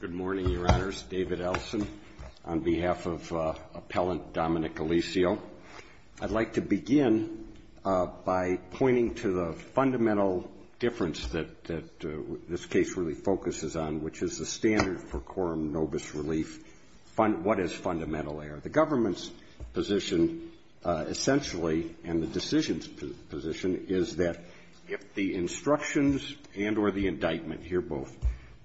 Good morning, Your Honors. David Ellison on behalf of Appellant Dominic Alessio. I'd like to begin by pointing to the fundamental difference that this case really focuses on, which is the standard for quorum nobis relief. What is fundamental there? The government's position essentially, and the decision's position, is that if the instructions and or the indictment here both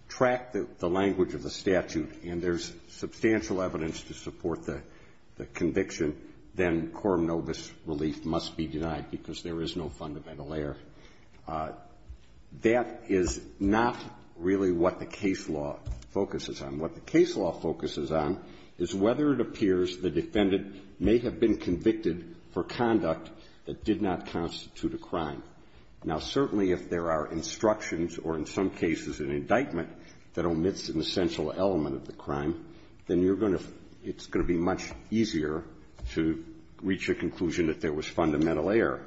track the language of the statute and there's substantial evidence to support the conviction, then quorum nobis relief must be denied, because there is no fundamental error. That is not really what the case law focuses on. What the case law focuses on is whether it appears the defendant may have been convicted for conduct that did not constitute a crime. Now, certainly, if there are instructions or in some cases an indictment that omits an essential element of the crime, then you're going to – it's going to be much easier to reach a conclusion that there was fundamental error.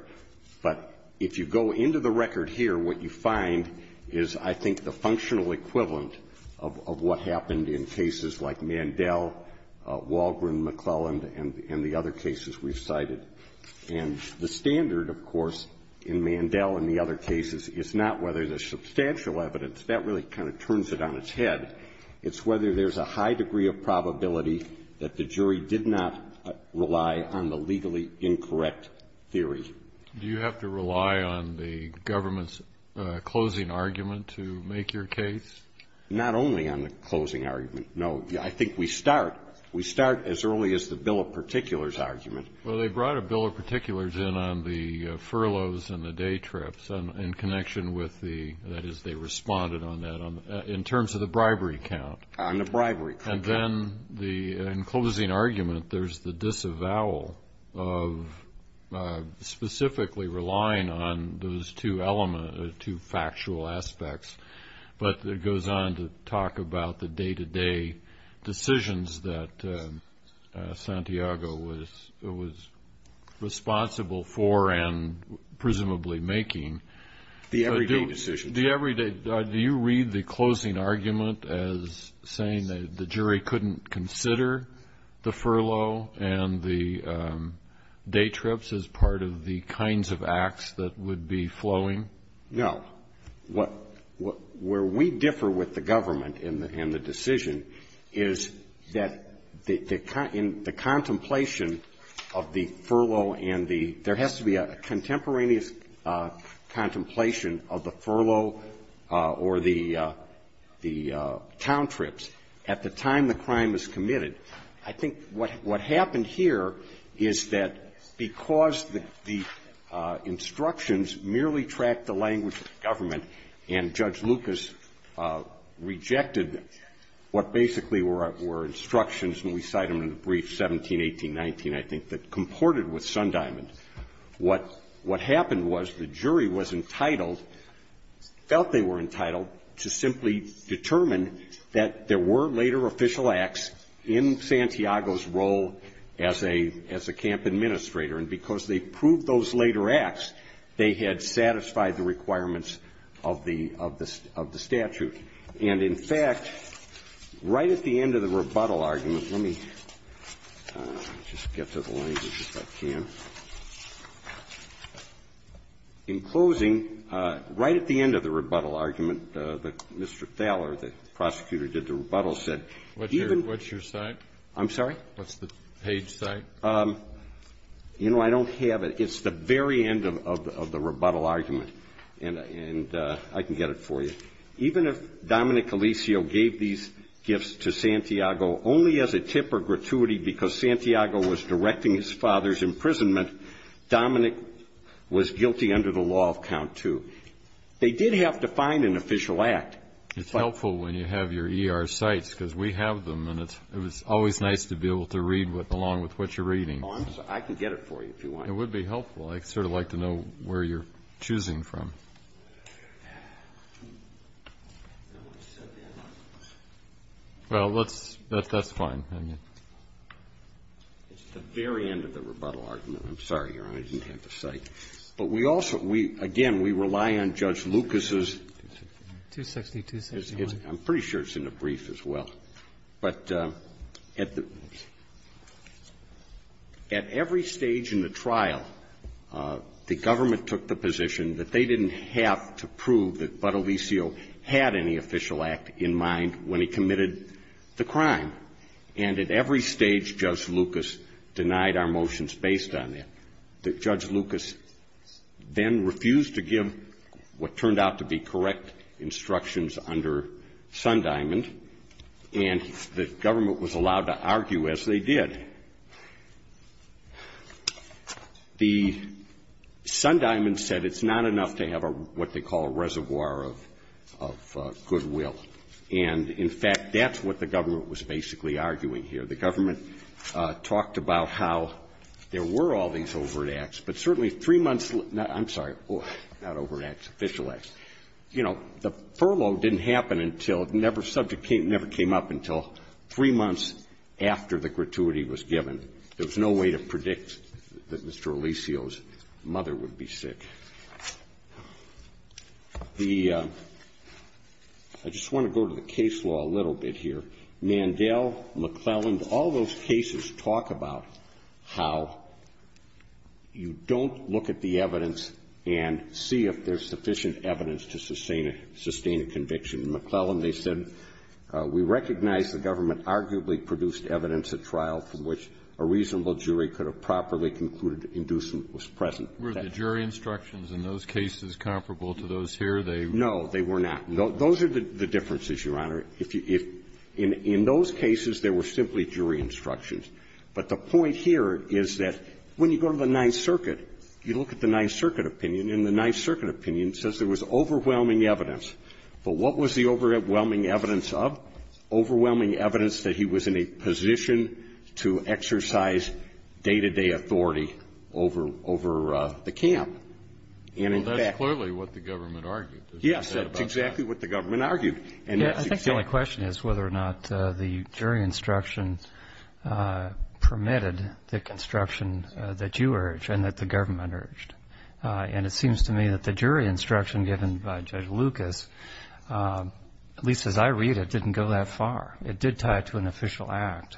But if you go into the record here, what you find is, I think, the functional equivalent of what happened in cases like Mandel, Walgren, McClelland, and the other cases we've cited. And the standard, of course, in Mandel and the other cases is not whether there's substantial evidence. That really kind of turns it on its head. It's whether there's a high degree of probability that the jury did not rely on the legally incorrect theory. Do you have to rely on the government's closing argument to make your case? Not only on the closing argument. No. I think we start – we start as early as the bill of particulars argument. Well, they brought a bill of particulars in on the furloughs and the day trips in connection with the – that is, they responded on that in terms of the bribery count. On the bribery count. And then the – in closing argument, there's the disavowal of specifically relying on those two elements, two factual aspects. But it goes on to talk about the day-to-day decisions that Santiago was responsible for and presumably making. The everyday decisions. The everyday – do you read the closing argument as saying that the jury couldn't consider the furlough and the day trips as part of the kinds of acts that would be flowing? No. What – where we differ with the government in the decision is that the – in the contemplation of the furlough and the – there has to be a contemporaneous contemplation of the furlough or the – the town trips at the time the crime is committed. I think what happened here is that because the instructions merely tracked the language of the government and Judge Lucas rejected what basically were instructions, and we cite them in the brief, 17, 18, 19, I think, that comported with Sundiamond, what happened was the jury was entitled – felt they were entitled to simply determine that there were later official acts in Santiago's role as a – as a camp administrator. And because they proved those later acts, they had satisfied the requirements of the – of the statute. And in fact, right at the end of the rebuttal argument – let me just get to the language if I can. In closing, right at the end of the rebuttal argument, Mr. Thaler, the prosecutor did the rebuttal, said, even – What's your – what's your site? I'm sorry? What's the page site? You know, I don't have it. It's the very end of the rebuttal argument. And I can get it for you. Even if Dominic Colisio gave these gifts to Santiago only as a tip or gratuity because Santiago was directing his father's imprisonment, Dominic was guilty under the law of count two. They did have to find an official act. It's helpful when you have your ER sites, because we have them, and it's – it was always nice to be able to read along with what you're reading. Oh, I'm sorry. I can get it for you if you want. It would be helpful. I'd sort of like to know where you're choosing from. Well, let's – that's fine. I mean, it's the very end of the rebuttal argument. I'm sorry, Your Honor. I didn't have the site. But we also – we – again, we rely on Judge Lucas's – 262. I'm pretty sure it's in the brief as well. But at the – at every stage in the trial, the government took the position that they didn't have to prove that Bud Olisio had any official act in mind when he committed the crime. And at every stage, Judge Lucas denied our motions based on that. That Judge Lucas then refused to give what turned out to be correct instructions under Sun Diamond, and the government was allowed to argue as they did. The – Sun Diamond said it's not enough to have a – what they call a reservoir of – of goodwill. And, in fact, that's what the government was basically arguing here. The government talked about how there were all these overt acts, but certainly three months – I'm sorry – not overt acts, official acts. You know, the furlough didn't happen until – never – subject came – never came up until three months after the gratuity was given. There was no way to predict that Mr. Olisio's mother would be sick. The – I just want to go to the case law a little bit here. Mandel, McClellan, all those cases talk about how you don't look at the evidence and see if there's sufficient evidence to sustain a – sustain a conviction. In McClellan, they said, we recognize the evidence of trial from which a reasonable jury could have properly concluded inducement was present. Were the jury instructions in those cases comparable to those here? They – No, they were not. Those are the differences, Your Honor. If you – if – in – in those cases, there were simply jury instructions. But the point here is that when you go to the Ninth Circuit, you look at the Ninth Circuit opinion, and the Ninth Circuit opinion says there was overwhelming evidence. But what was the overwhelming evidence of? Overwhelming evidence that he was in a position to exercise day-to-day authority over – over the camp. And, in fact – Well, that's clearly what the government argued, is what you said about that. Yes, that's exactly what the government argued. And that's exactly – Yeah, I think the only question is whether or not the jury instructions permitted the construction that you urged and that the government urged. And it seems to me that the jury instruction given by Judge Lucas, at least as I read it, didn't go that far. It did tie it to an official act.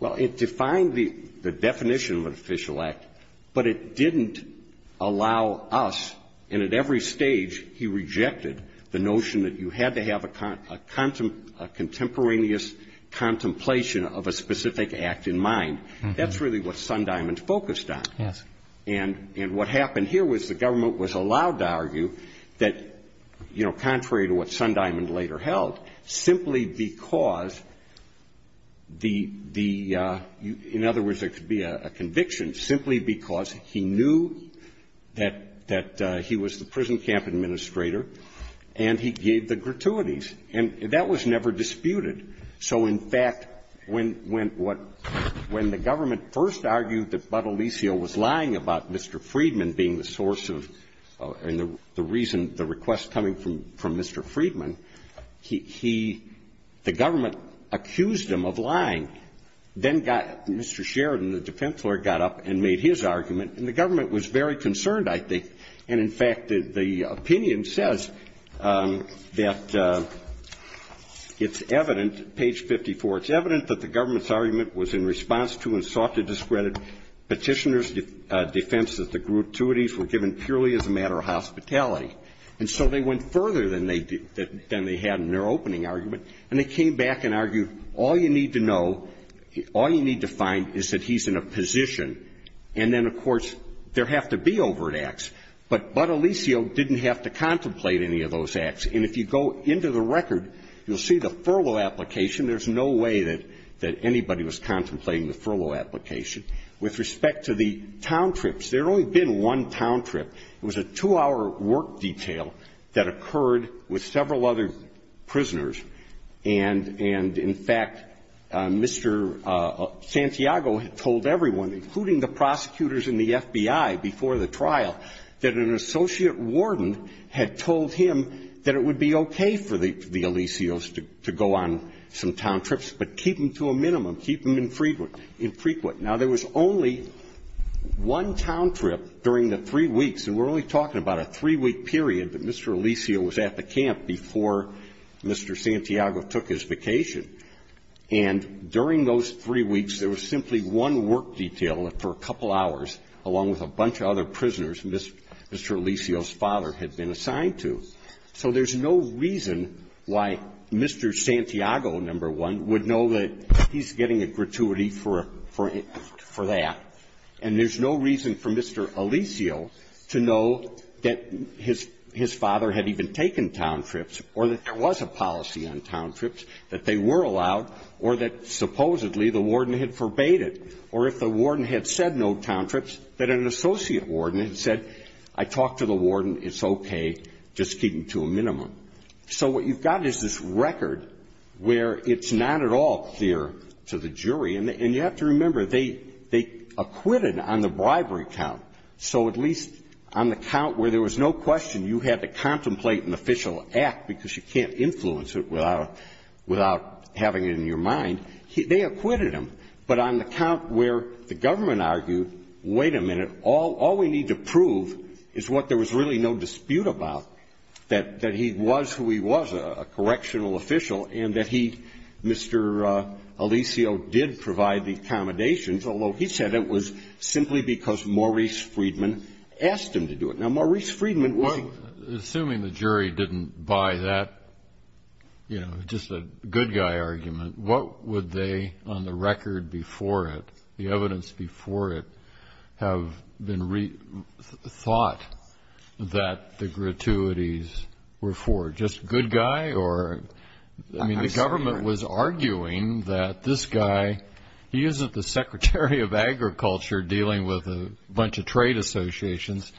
Well, it defined the definition of an official act, but it didn't allow us, and at every stage he rejected, the notion that you had to have a contemporaneous contemplation of a specific act in mind. That's really what Sundiamond focused on. Yes. And what happened here was the government was allowed to argue that, you know, because the – in other words, there could be a conviction, simply because he knew that – that he was the prison camp administrator, and he gave the gratuities. And that was never disputed. So, in fact, when – when what – when the government first argued that Bud Alicio was lying about Mr. Freedman being the source of – and the reason – the request coming from – from Mr. Freedman, he – the government accused him of lying. Then got – Mr. Sheridan, the defense lawyer, got up and made his argument. And the government was very concerned, I think. And, in fact, the opinion says that it's evident – page 54 – it's evident that the government's argument was in response to and sought to discredit Petitioner's defense that the gratuities were given purely as a matter of hospitality. And so they went further than they – than they had in their opening argument, and they came back and argued all you need to know – all you need to find is that he's in a position. And then, of course, there have to be overt acts. But Bud Alicio didn't have to contemplate any of those acts. And if you go into the record, you'll see the furlough application. There's no way that – that anybody was contemplating the furlough application. With respect to the town trips, there had only been one town trip. It was a two-hour work detail that occurred with several other prisoners. And – and, in fact, Mr. Santiago had told everyone, including the prosecutors and the FBI before the trial, that an associate warden had told him that it would be okay for the – the Alicios to – to go on some town trips, but keep them to a minimum, keep them infrequent – infrequent. Now, there was only one town trip during the three weeks – and we're only talking about a three-week period, but Mr. Alicio was at the camp before Mr. Santiago took his vacation. And during those three weeks, there was simply one work detail for a couple hours along with a bunch of other prisoners Mr. Alicio's father had been assigned to. So there's no reason why Mr. Santiago, number one, would know that he's getting a gratuity for – for that. And there's no reason for Mr. Alicio to know that his – his father had even taken town trips, or that there was a policy on town trips, that they were allowed, or that supposedly the warden had forbade it. Or if the warden had said no town trips, that an associate warden had said, I talked to the warden, it's okay, just keep them to a minimum. So what you've got is this record where it's not at all clear to the jury. And you have to remember, they acquitted on the bribery count. So at least on the count where there was no question you had to contemplate an official act because you can't influence it without – without having it in your mind, they acquitted him. But on the count where the government argued, wait a minute, all – all we need to prove is what there was really no dispute about, that – that he was who he was, a – a correctional official, and that he, Mr. Alicio, did provide the accommodations, although he said it was simply because Maurice Freedman asked him to do it. Now, Maurice Freedman was – Well, assuming the jury didn't buy that, you know, just a good guy argument, what would they, on the record before it, the evidence before it, have been – thought that the gratuities were for? Just a good guy or – I mean, the government was arguing that this guy – he isn't the Secretary of Agriculture dealing with a bunch of trade associations.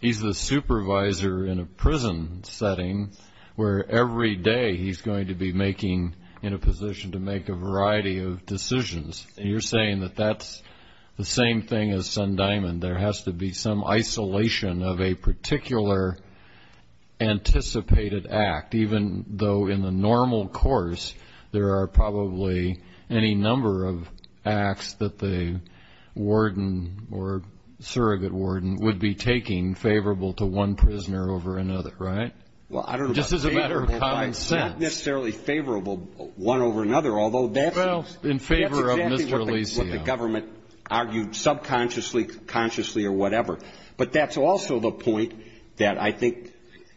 He's the supervisor in a prison setting where every day he's going to be making – in a position to make a variety of decisions. And you're saying that that's the same thing as Sundiamond. There has to be some isolation of a particular anticipated act, even though in the normal course, there are probably any number of acts that the warden or surrogate warden would be taking favorable to one prisoner over another, right? Well, I don't know about favorable, but it's not necessarily favorable one over another, although that's – Well, in favor of Mr. Alicio. That's exactly what the government argued subconsciously, consciously, or whatever. But that's also the point that I think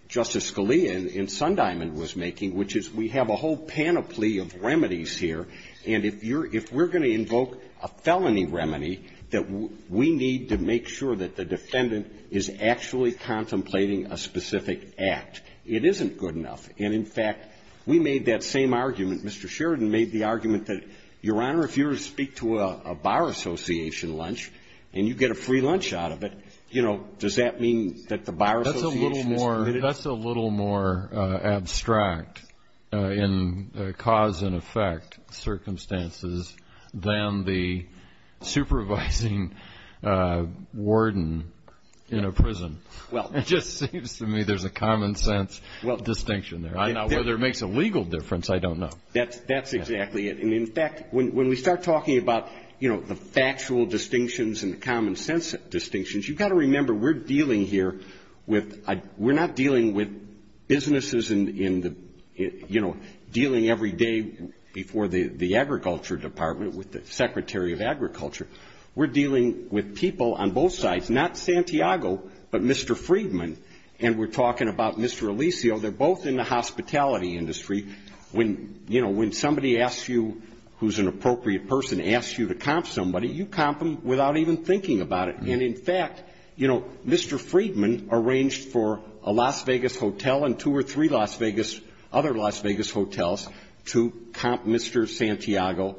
Justice Scalia in Sundiamond was making, which is we have a whole panoply of remedies here, and if you're – if we're going to invoke a felony remedy, that we need to make sure that the defendant is actually contemplating a specific act. It isn't good enough. And in fact, we made that same argument. Mr. Sheridan made the argument that, Your Honor, if you were to speak to a bar association lunch and you get a free lunch out of it, you know, does that mean that the bar association is committed? That's a little more – that's a little more abstract in cause and effect circumstances than the supervising warden in a prison. Well – It just seems to me there's a common sense distinction there. I don't know whether it makes a legal difference. I don't know. That's exactly it. And in fact, when we start talking about, you know, the factual distinctions and the common sense distinctions, you've got to remember we're dealing here with – we're not dealing with businesses in the – you know, dealing every day before the Agriculture Department with the Secretary of Agriculture. We're dealing with people on both sides. Not Santiago, but Mr. Friedman. And we're talking about Mr. Alicio. They're both in the hospitality industry. When, you know, when somebody asks you – who's an appropriate person – asks you to comp somebody, you comp them without even thinking about it. And in fact, you know, Mr. Friedman arranged for a Las Vegas hotel and two or three Las Vegas – other Las Vegas hotels to comp Mr. Santiago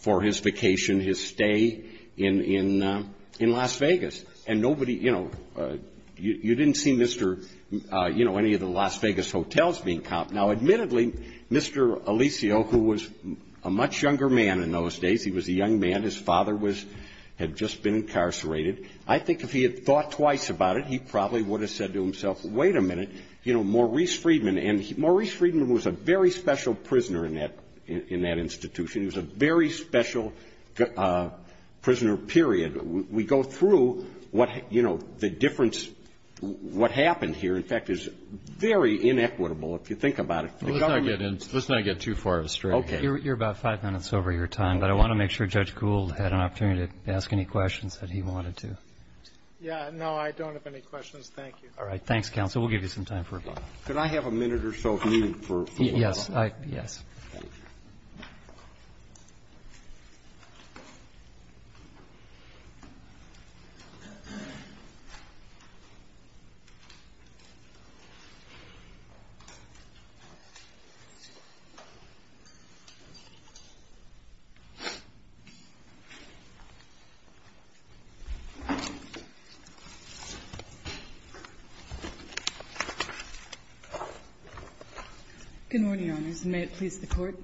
for his vacation, his stay in Los Vegas. And nobody – you know, you didn't see Mr. – you know, any of the Las Vegas hotels being comped. Now, admittedly, Mr. Alicio, who was a much younger man in those days – he was a young man. His father was – had just been incarcerated. I think if he had thought twice about it, he probably would have said to himself, wait a minute, you know, Maurice Friedman – and Maurice Friedman was a very special prisoner in that – in that institution. He was a very special prisoner, period. We go through what – you know, the difference – what happened here, in fact, is very inequitable, if you think about it, for the government. Let's not get in – let's not get too far astray. Okay. You're about five minutes over your time, but I want to make sure Judge Gould had an opportunity to ask any questions that he wanted to. Yeah. No, I don't have any questions. Thank you. All right. Thanks, counsel. We'll give you some time for a break. Could I have a minute or so if needed for – Yes. Yes. Thank you.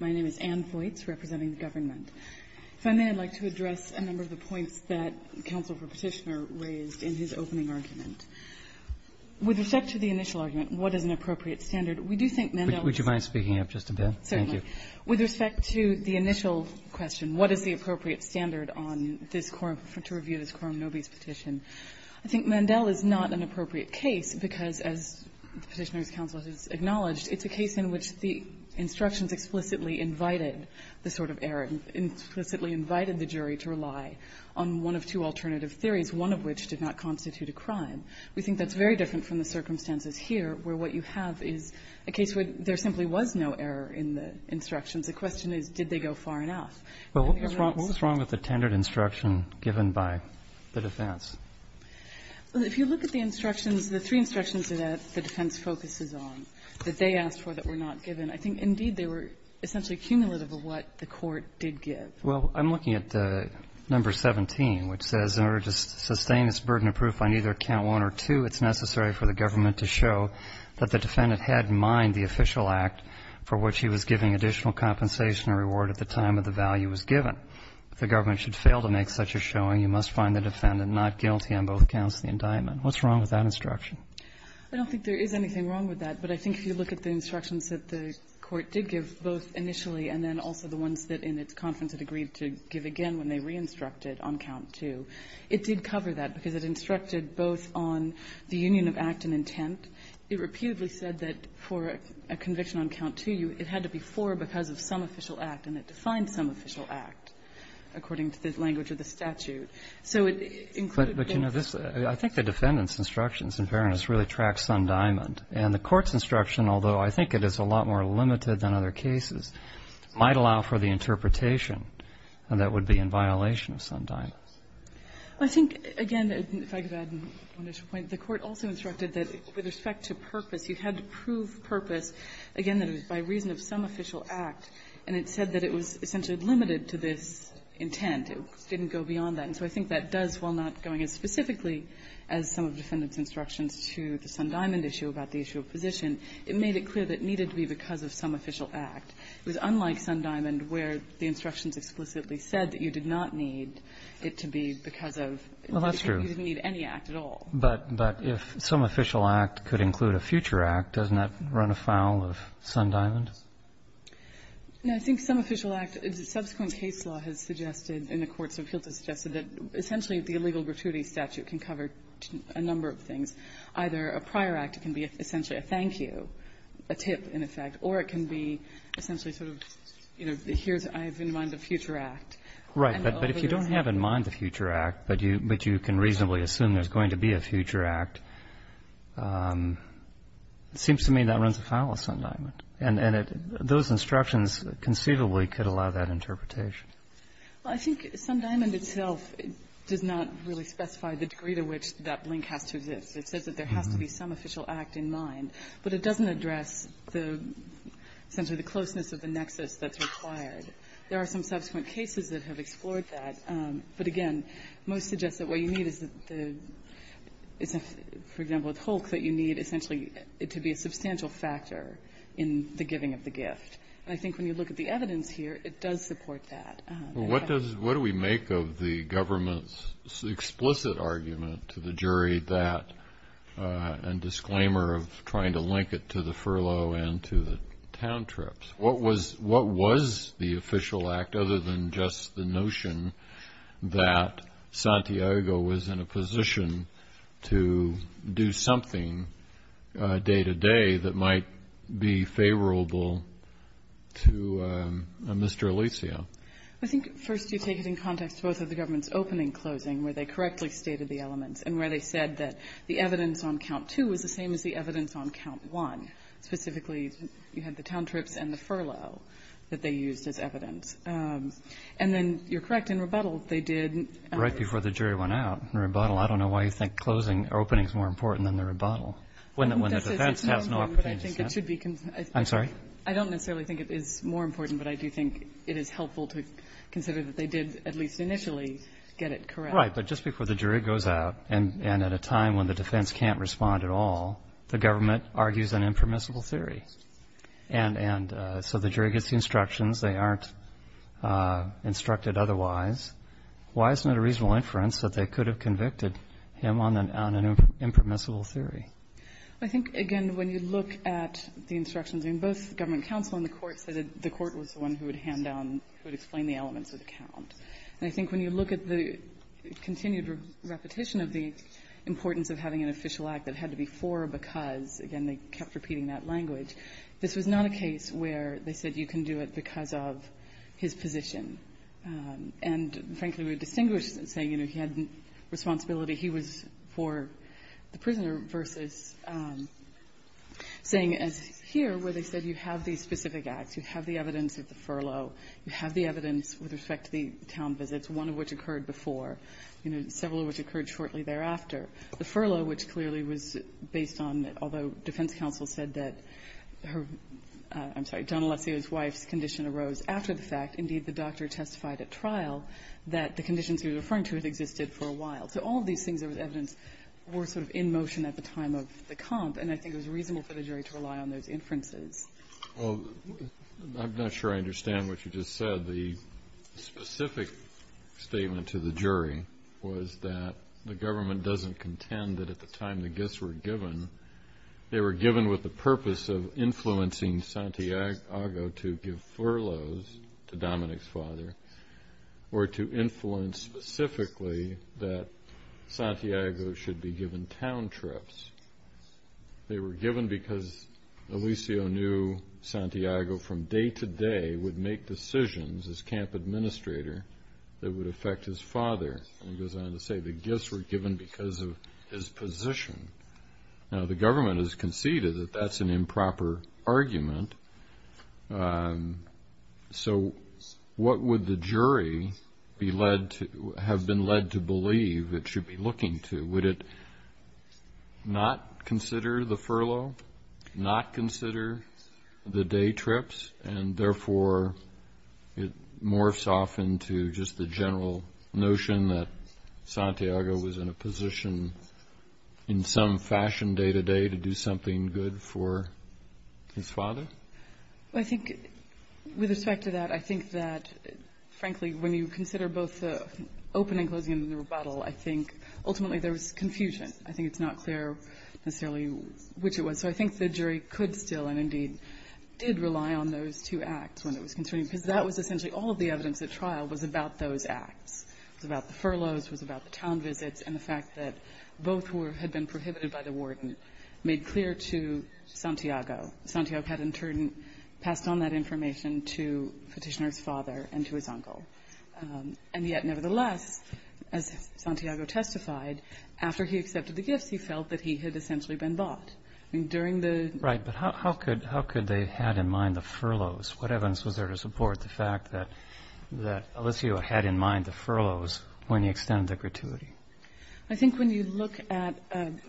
My name is Anne Voights, representing the government. If I may, I'd like to address a number of the points that counsel for Petitioner raised in his opening argument. With respect to the initial argument, what is an appropriate standard, we do think Mandel is – Would you mind speaking up just a bit? Certainly. Thank you. With respect to the initial question, what is the appropriate standard on this Corum – to review this Corum Nobis petition, I think Mandel is not an appropriate case because, as the Petitioner's counsel has acknowledged, it's a case in which the instructions explicitly invited the sort of error – implicitly invited the jury to rely on one of two alternative theories, one of which did not constitute a crime. We think that's very different from the circumstances here, where what you have is a case where there simply was no error in the instructions. The question is, did they go far enough? Well, what was wrong with the tendered instruction given by the defense? If you look at the instructions, the three instructions that the defense focuses on that they asked for that were not given, I think, indeed, they were essentially cumulative of what the court did give. Well, I'm looking at number 17, which says, In order to sustain this burden of proof by neither count one or two, it's necessary for the government to show that the defendant had in mind the official act for which he was giving additional compensation or reward at the time that the value was given. If the government should fail to make such a showing, you must find the defendant not guilty on both counts of the indictment. What's wrong with that instruction? I don't think there is anything wrong with that. But I think if you look at the instructions that the court did give, both initially and then also the ones that, in its conference, it agreed to give again when they re-instructed on count two, it did cover that, because it instructed both on the union of act and intent. It reputedly said that for a conviction on count two, it had to be four because of some official act, and it defined some official act, according to the language of the statute. So it included both. I think the defendant's instructions, in fairness, really track Sundiamond. And the Court's instruction, although I think it is a lot more limited than other cases, might allow for the interpretation that would be in violation of Sundiamond. I think, again, if I could add one additional point, the Court also instructed that with respect to purpose, you had to prove purpose, again, that it was by reason of some official act. And it said that it was essentially limited to this intent. It didn't go beyond that. And so I think that does, while not going as specifically as some of the defendant's instructions to the Sundiamond issue about the issue of position, it made it clear that it needed to be because of some official act. It was unlike Sundiamond, where the instructions explicitly said that you did not need it to be because of any act at all. But if some official act could include a future act, doesn't that run afoul of Sundiamond? No, I think some official act, subsequent case law has suggested, and the Court's appeal has suggested that essentially the illegal gratuity statute can cover a number of things. Either a prior act can be essentially a thank you, a tip in effect, or it can be essentially sort of, you know, here's, I have in mind a future act. Right, but if you don't have in mind the future act, but you can reasonably assume there's going to be a future act, it seems to me that runs afoul of Sundiamond. And it, those instructions conceivably could allow that interpretation. Well, I think Sundiamond itself does not really specify the degree to which that link has to exist. It says that there has to be some official act in mind, but it doesn't address the, essentially the closeness of the nexus that's required. There are some subsequent cases that have explored that, but again, most suggest that what you need is the, for example, with Hulk, that you need essentially to be a substantial factor in the giving of the gift. And I think when you look at the evidence here, it does support that. Well, what does, what do we make of the government's explicit argument to the jury that, and disclaimer of trying to link it to the furlough and to the town trips? What was, what was the official act other than just the notion that Santiago was in a position to do something day to day that might be favorable to Mr. Alicio? I think first you take it in context to both of the government's opening and closing where they correctly stated the elements and where they said that the evidence on count two was the same as the evidence on count one. Specifically, you had the town trips and the furlough that they used as evidence. And then you're correct in rebuttal, they did. Right before the jury went out in rebuttal. I don't know why you think closing or opening is more important than the rebuttal. When the defense has no opportunity to stand. I'm sorry? I don't necessarily think it is more important, but I do think it is helpful to consider that they did at least initially get it correct. Right. But just before the jury goes out and at a time when the defense can't respond at all, the government argues an impermissible theory. And so the jury gets the instructions. They aren't instructed otherwise. Why isn't it a reasonable inference that they could have convicted him on an impermissible theory? I think, again, when you look at the instructions in both government counsel and the court, the court was the one who would hand down, who would explain the elements of the count. And I think when you look at the continued repetition of the importance of having an official act that had to be four because, again, they kept repeating that language, this was not a case where they said you can do it because of his position. And, frankly, we would distinguish saying he had responsibility. He was for the prisoner versus saying as here where they said you have these specific acts. You have the evidence of the furlough. You have the evidence with respect to the town visits, one of which occurred before, several of which occurred shortly thereafter. The furlough, which clearly was based on, although defense counsel said that her wife's condition arose after the fact. Indeed, the doctor testified at trial that the conditions he was referring to had existed for a while. So all of these things that was evidence were sort of in motion at the time of the comp, and I think it was reasonable for the jury to rely on those inferences. Well, I'm not sure I understand what you just said. The specific statement to the jury was that the government doesn't contend that at the time the gifts were given, they were given with the purpose of influencing Santiago to give furloughs to Dominic's father or to influence specifically that Santiago should be given town trips. They were given because Eliseo knew Santiago from day to day would make decisions as camp administrator that would affect his father. He goes on to say the gifts were given because of his position. Now, the government has conceded that that's an improper argument, so what would the jury have been led to believe it should be looking to? Would it not consider the furlough, not consider the day trips, and therefore it morphs off into just the general notion that Santiago was in a position in some fashion day to day to do something good for his father? Well, I think with respect to that, I think that, frankly, when you consider both the opening and closing of the rebuttal, I think ultimately there was confusion. I think it's not clear necessarily which it was. So I think the jury could still and indeed did rely on those two acts when it was concerning because that was essentially all of the evidence at trial was about those acts. It was about the furloughs. It was about the town visits and the fact that both had been prohibited by the warden made clear to Santiago. Santiago had in turn passed on that information to Petitioner's father and to his uncle. And yet nevertheless, as Santiago testified, after he accepted the gifts, he felt that he had essentially been bought. Right. But how could they have in mind the furloughs? What evidence was there to support the fact that Alessio had in mind the furloughs when he extended the gratuity? I think when you look at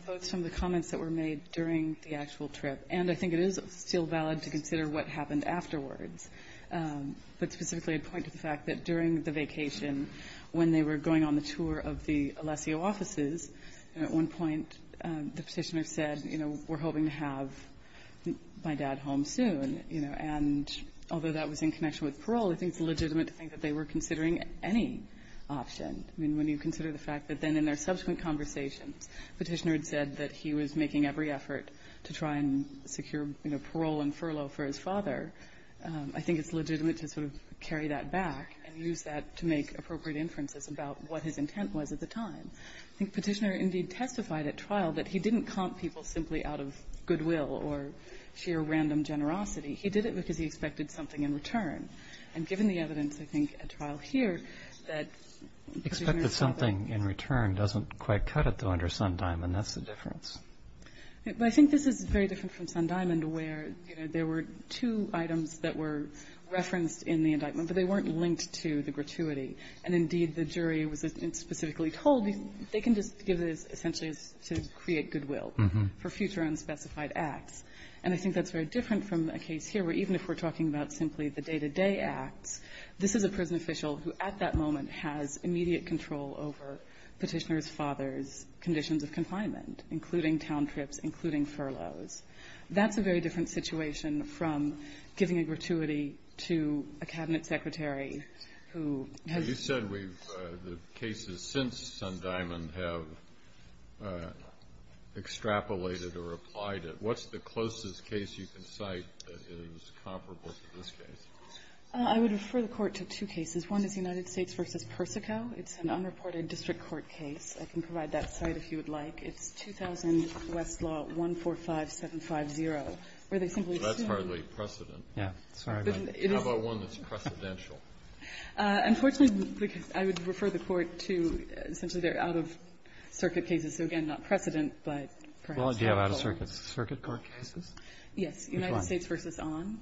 both some of the comments that were made during the actual trip, and I think it is still valid to consider what happened afterwards, but specifically I'd point to the fact that during the vacation when they were going on the tour of the Alessio offices, at one point the Petitioner said, we're hoping to have my dad home soon. And although that was in connection with parole, I think it's legitimate to think that they were considering any option. I mean, when you consider the fact that then in their subsequent conversations Petitioner had said that he was making every effort to try and secure parole and furlough for his father, I think it's legitimate to sort of carry that back and use that to make appropriate inferences about what his intent was at the time. I think Petitioner indeed testified at trial that he didn't comp people simply out of goodwill or sheer random generosity. He did it because he expected something in return. And given the evidence, I think, at trial here that Petitioner thought that Expected something in return doesn't quite cut it, though, under Sundiamond. That's the difference. But I think this is very different from Sundiamond where there were two items that were referenced in the indictment, but they weren't linked to the gratuity. And indeed, the jury was specifically told they can just give this essentially to create goodwill for future unspecified acts. And I think that's very different from a case here where even if we're talking about simply the day-to-day acts, this is a prison official who at that moment has immediate control over Petitioner's father's conditions of confinement, including town trips, including furloughs. That's a very different situation from giving a gratuity to a Cabinet secretary who has... You said the cases since Sundiamond have extrapolated or applied it. What's the closest case you can cite that is comparable to this case? I would refer the Court to two cases. One is the United States v. Persico. It's an unreported district court case. I can provide that site if you would like. It's 2000 Westlaw 145750, where they simply assume... That's hardly precedent. Yeah, sorry. How about one that's precedential? Unfortunately, I would refer the Court to essentially they're out-of-circuit cases, so again, not precedent, but perhaps helpful. Well, do you have out-of-circuit court cases? Yes. United States v. On,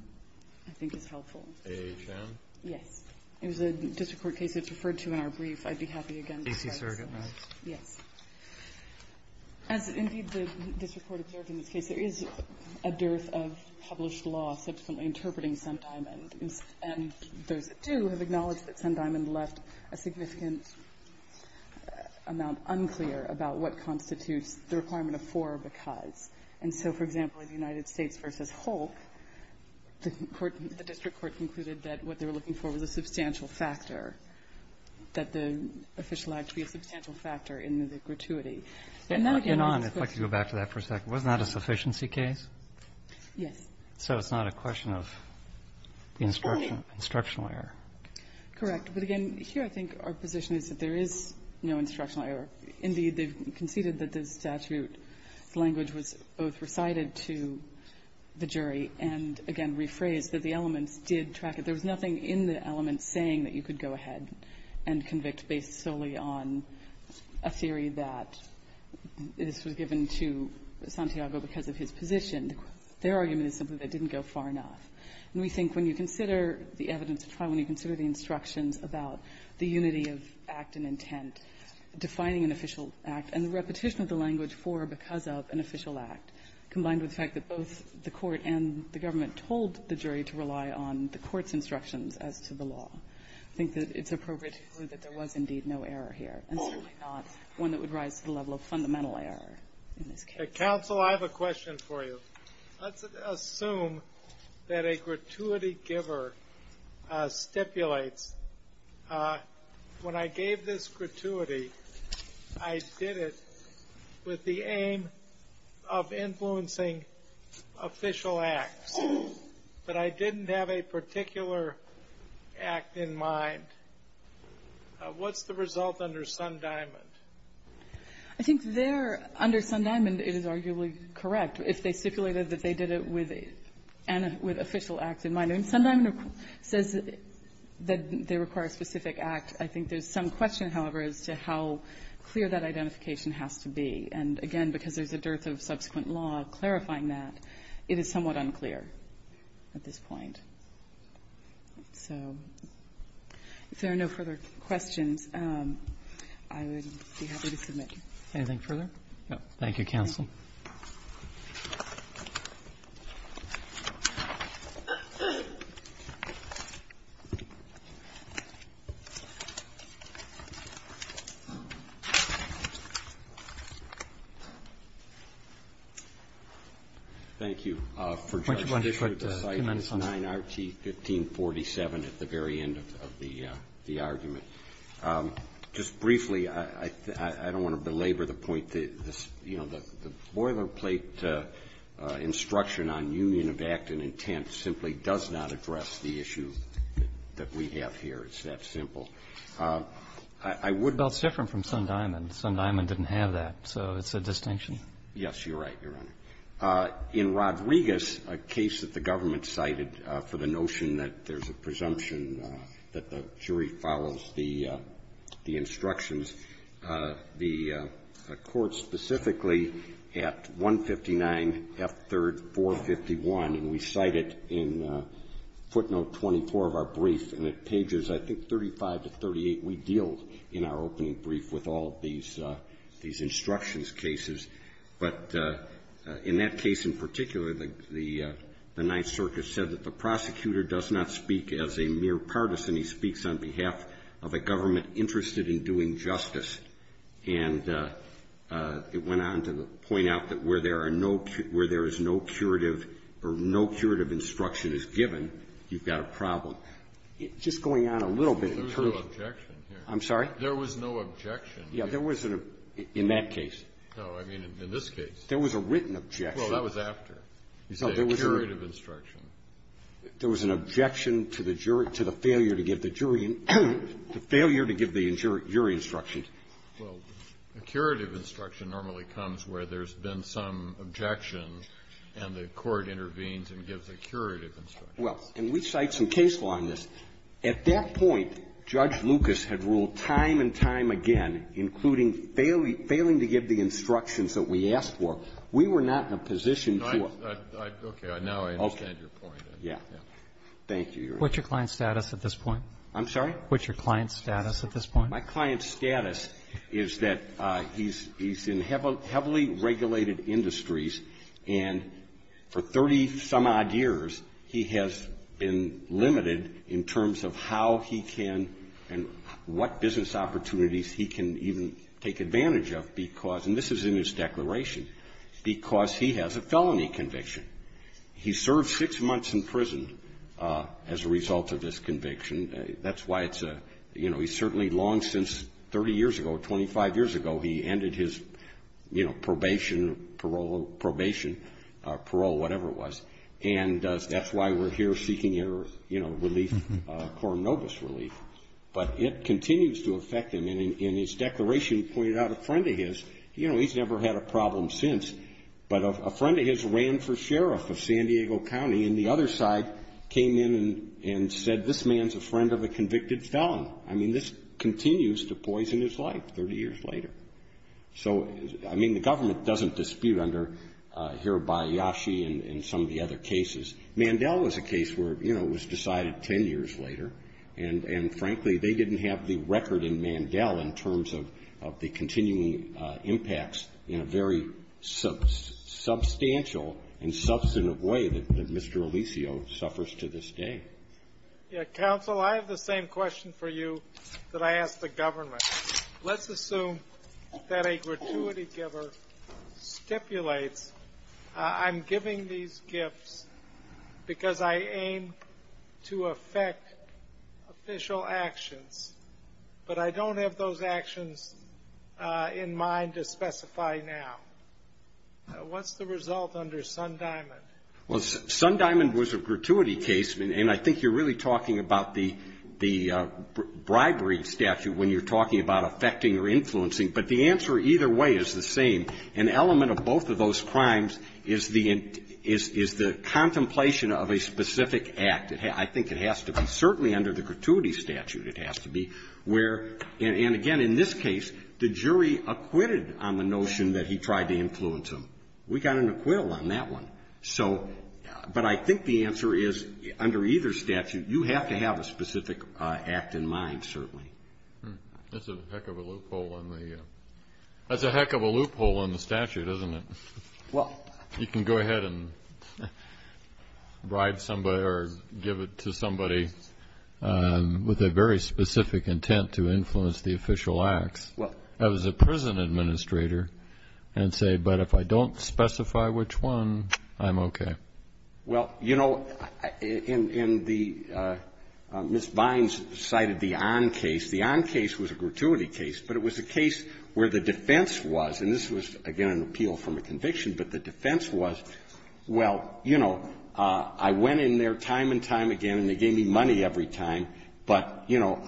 I think is helpful. A.H.M.? Yes. It was a district court case that's referred to in our brief. I'd be happy again... D.C. Circuit, right? Yes. As indeed the district court observed in this case, there is a dearth of published law subsequently interpreting Sundiamond, and those that do have acknowledged that Sundiamond left a significant amount unclear about what constitutes the requirement of for or because. And so, for example, in the United States v. Hulk, the court, the district court concluded that what they were looking for was a substantial factor, that the official had to be a substantial factor in the gratuity. And on, if I could go back to that for a second. Wasn't that a sufficiency case? Yes. So it's not a question of instructional error. Correct. But again, here I think our position is that there is no instructional error. Indeed, they conceded that the statute language was both recited to the jury and, again, rephrased, that the elements did track it. There was nothing in the elements saying that you could go ahead and convict based solely on a theory that this was given to Santiago because of his position. Their argument is simply that it didn't go far enough. And we think when you consider the evidence of trial, when you consider the instructions about the unity of act and intent, defining an official act, and the repetition of the language for or because of an official act, combined with the fact that both the court and the government told the jury to rely on the court's instructions as to the law, I think that it's appropriate to conclude that there was indeed no error here, and certainly not one that would rise to the level of fundamental error in this case. Counsel, I have a question for you. Let's assume that a gratuity giver stipulates, when I gave this gratuity, I did it with the aim of influencing official acts, but I didn't have a particular act in mind. What's the result under Sun-Diamond? I think there, under Sun-Diamond, it is arguably correct. If they stipulated that they did it with an official act in mind, and Sun-Diamond says that they require a specific act, I think there's some question, however, as to how clear that identification has to be. And again, because there's a dearth of subsequent law clarifying that, it is somewhat unclear at this point. So, if there are no further questions, I would be happy to submit. Anything further? No. Thank you, Counsel. Thank you. Why don't you put a few minutes on that? For Judge Kishore, the site is 9RT1547 at the very end of the argument. Just briefly, I don't want to belabor the point that, you know, the boilerplate instruction on union of act and intent simply does not address the issue that we have here. It's that simple. I would be able to do that. Well, it's different from Sun-Diamond. Sun-Diamond didn't have that, so it's a distinction. Yes, you're right, Your Honor. In Rodriguez, a case that the government cited for the notion that there's a presumption that the jury follows the instructions, the court specifically at 159F3451, and we cite it in footnote 24 of our brief, and at pages, I think, 35 to 38, we deal in our opening brief with all of these instructions cases. But in that case in particular, the Ninth Circuit said that the prosecutor does not speak as a mere partisan. He speaks on behalf of a government interested in doing justice. And it went on to point out that where there are no – where there is no curative or no curative instruction is given, you've got a problem. Just going on a little bit. There was no objection here. I'm sorry? There was no objection. Yes, there was in that case. No, I mean, in this case. There was a written objection. Well, that was after the curative instruction. There was an objection to the jury – to the failure to give the jury – the failure to give the jury instruction. Well, a curative instruction normally comes where there's been some objection, and the court intervenes and gives a curative instruction. Well, and we cite some case law in this. We give the instructions that we asked for. We were not in a position to – Okay. Now I understand your point. Yeah. Thank you, Your Honor. What's your client's status at this point? I'm sorry? What's your client's status at this point? My client's status is that he's in heavily regulated industries, and for 30-some odd years, he has been limited in terms of how he can and what business opportunities he can even take advantage of because – and this is in his declaration – because he has a felony conviction. He served six months in prison as a result of this conviction. That's why it's a – you know, he's certainly long since – 30 years ago, 25 years ago, he ended his, you know, probation, parole – probation, parole, whatever it was. And that's why we're here seeking your, you know, relief, coronavirus relief. But it continues to affect him. And in his declaration, he pointed out a friend of his – you know, he's never had a problem since – but a friend of his ran for sheriff of San Diego County, and the other side came in and said, this man's a friend of a convicted felon. I mean, this continues to poison his life 30 years later. So, I mean, the government doesn't dispute under Hirabayashi and some of the other cases. Mandel was a case where, you know, it was decided 10 years later. And frankly, they didn't have the record in Mandel in terms of the continuing impacts in a very substantial and substantive way that Mr. Alicio suffers to this day. Yeah. Counsel, I have the same question for you that I asked the government. Let's assume that a gratuity giver stipulates, I'm giving these gifts because I aim to affect official actions, but I don't have those actions in mind to specify now. What's the result under Sundiamond? Well, Sundiamond was a gratuity case. And I think you're really talking about the bribery statute when you're talking about affecting or influencing, but the answer either way is the same. An element of both of those crimes is the contemplation of a specific act. I think it has to be certainly under the gratuity statute. It has to be where – and again, in this case, the jury acquitted on the notion that he tried to influence him. We got an acquittal on that one. But I think the answer is, under either statute, you have to have a specific act in mind, certainly. That's a heck of a loophole in the statute, isn't it? Well – You can go ahead and bribe somebody or give it to somebody with a very specific intent to influence the official acts. I was a prison administrator and say, but if I don't specify which one, I'm okay. Well, you know, in the – Ms. Vines cited the on case. The on case was a gratuity case, but it was a case where the defense was – and this was, again, an appeal from a conviction – but the defense was, well, you know, I went in there time and time again and they gave me money every time, but, you know,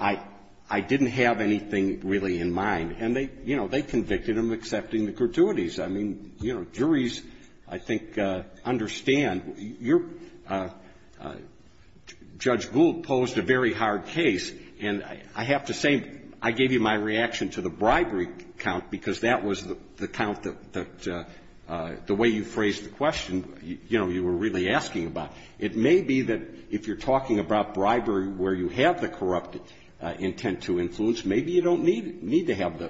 I didn't have anything really in mind. And they, you know, they convicted him accepting the gratuities. I mean, you know, juries, I think, understand. Your – Judge Gould posed a very hard case. And I have to say, I gave you my reaction to the bribery count, because that was the count that – the way you phrased the question, you know, you were really asking about. It may be that if you're talking about bribery where you have the corrupt intent to influence, maybe you don't need to have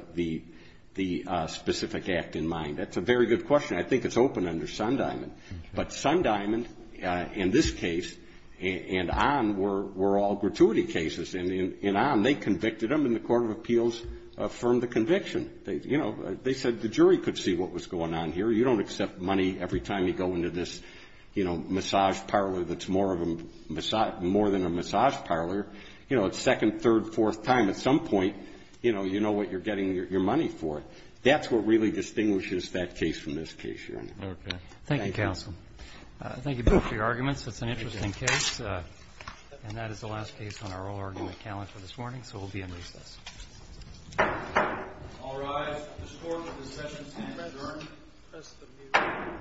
the specific act in mind. That's a very good question. I think it's open under Sundiamond. But Sundiamond, in this case, and on, were all gratuity cases. And on, they convicted him and the Court of Appeals affirmed the conviction. You know, they said the jury could see what was going on here. You don't accept money every time you go into this, you know, massage parlor that's more of a – more than a massage parlor. You know, it's second, third, fourth time. At some point, you know, you know what you're getting your money for. That's what really distinguishes that case from this case, Your Honor. Okay. Thank you. Thank you, counsel. Thank you both for your arguments. It's an interesting case. And that is the last case on our oral argument calendar this morning, so we'll be in recess. All rise. The Court of Discussions is adjourned.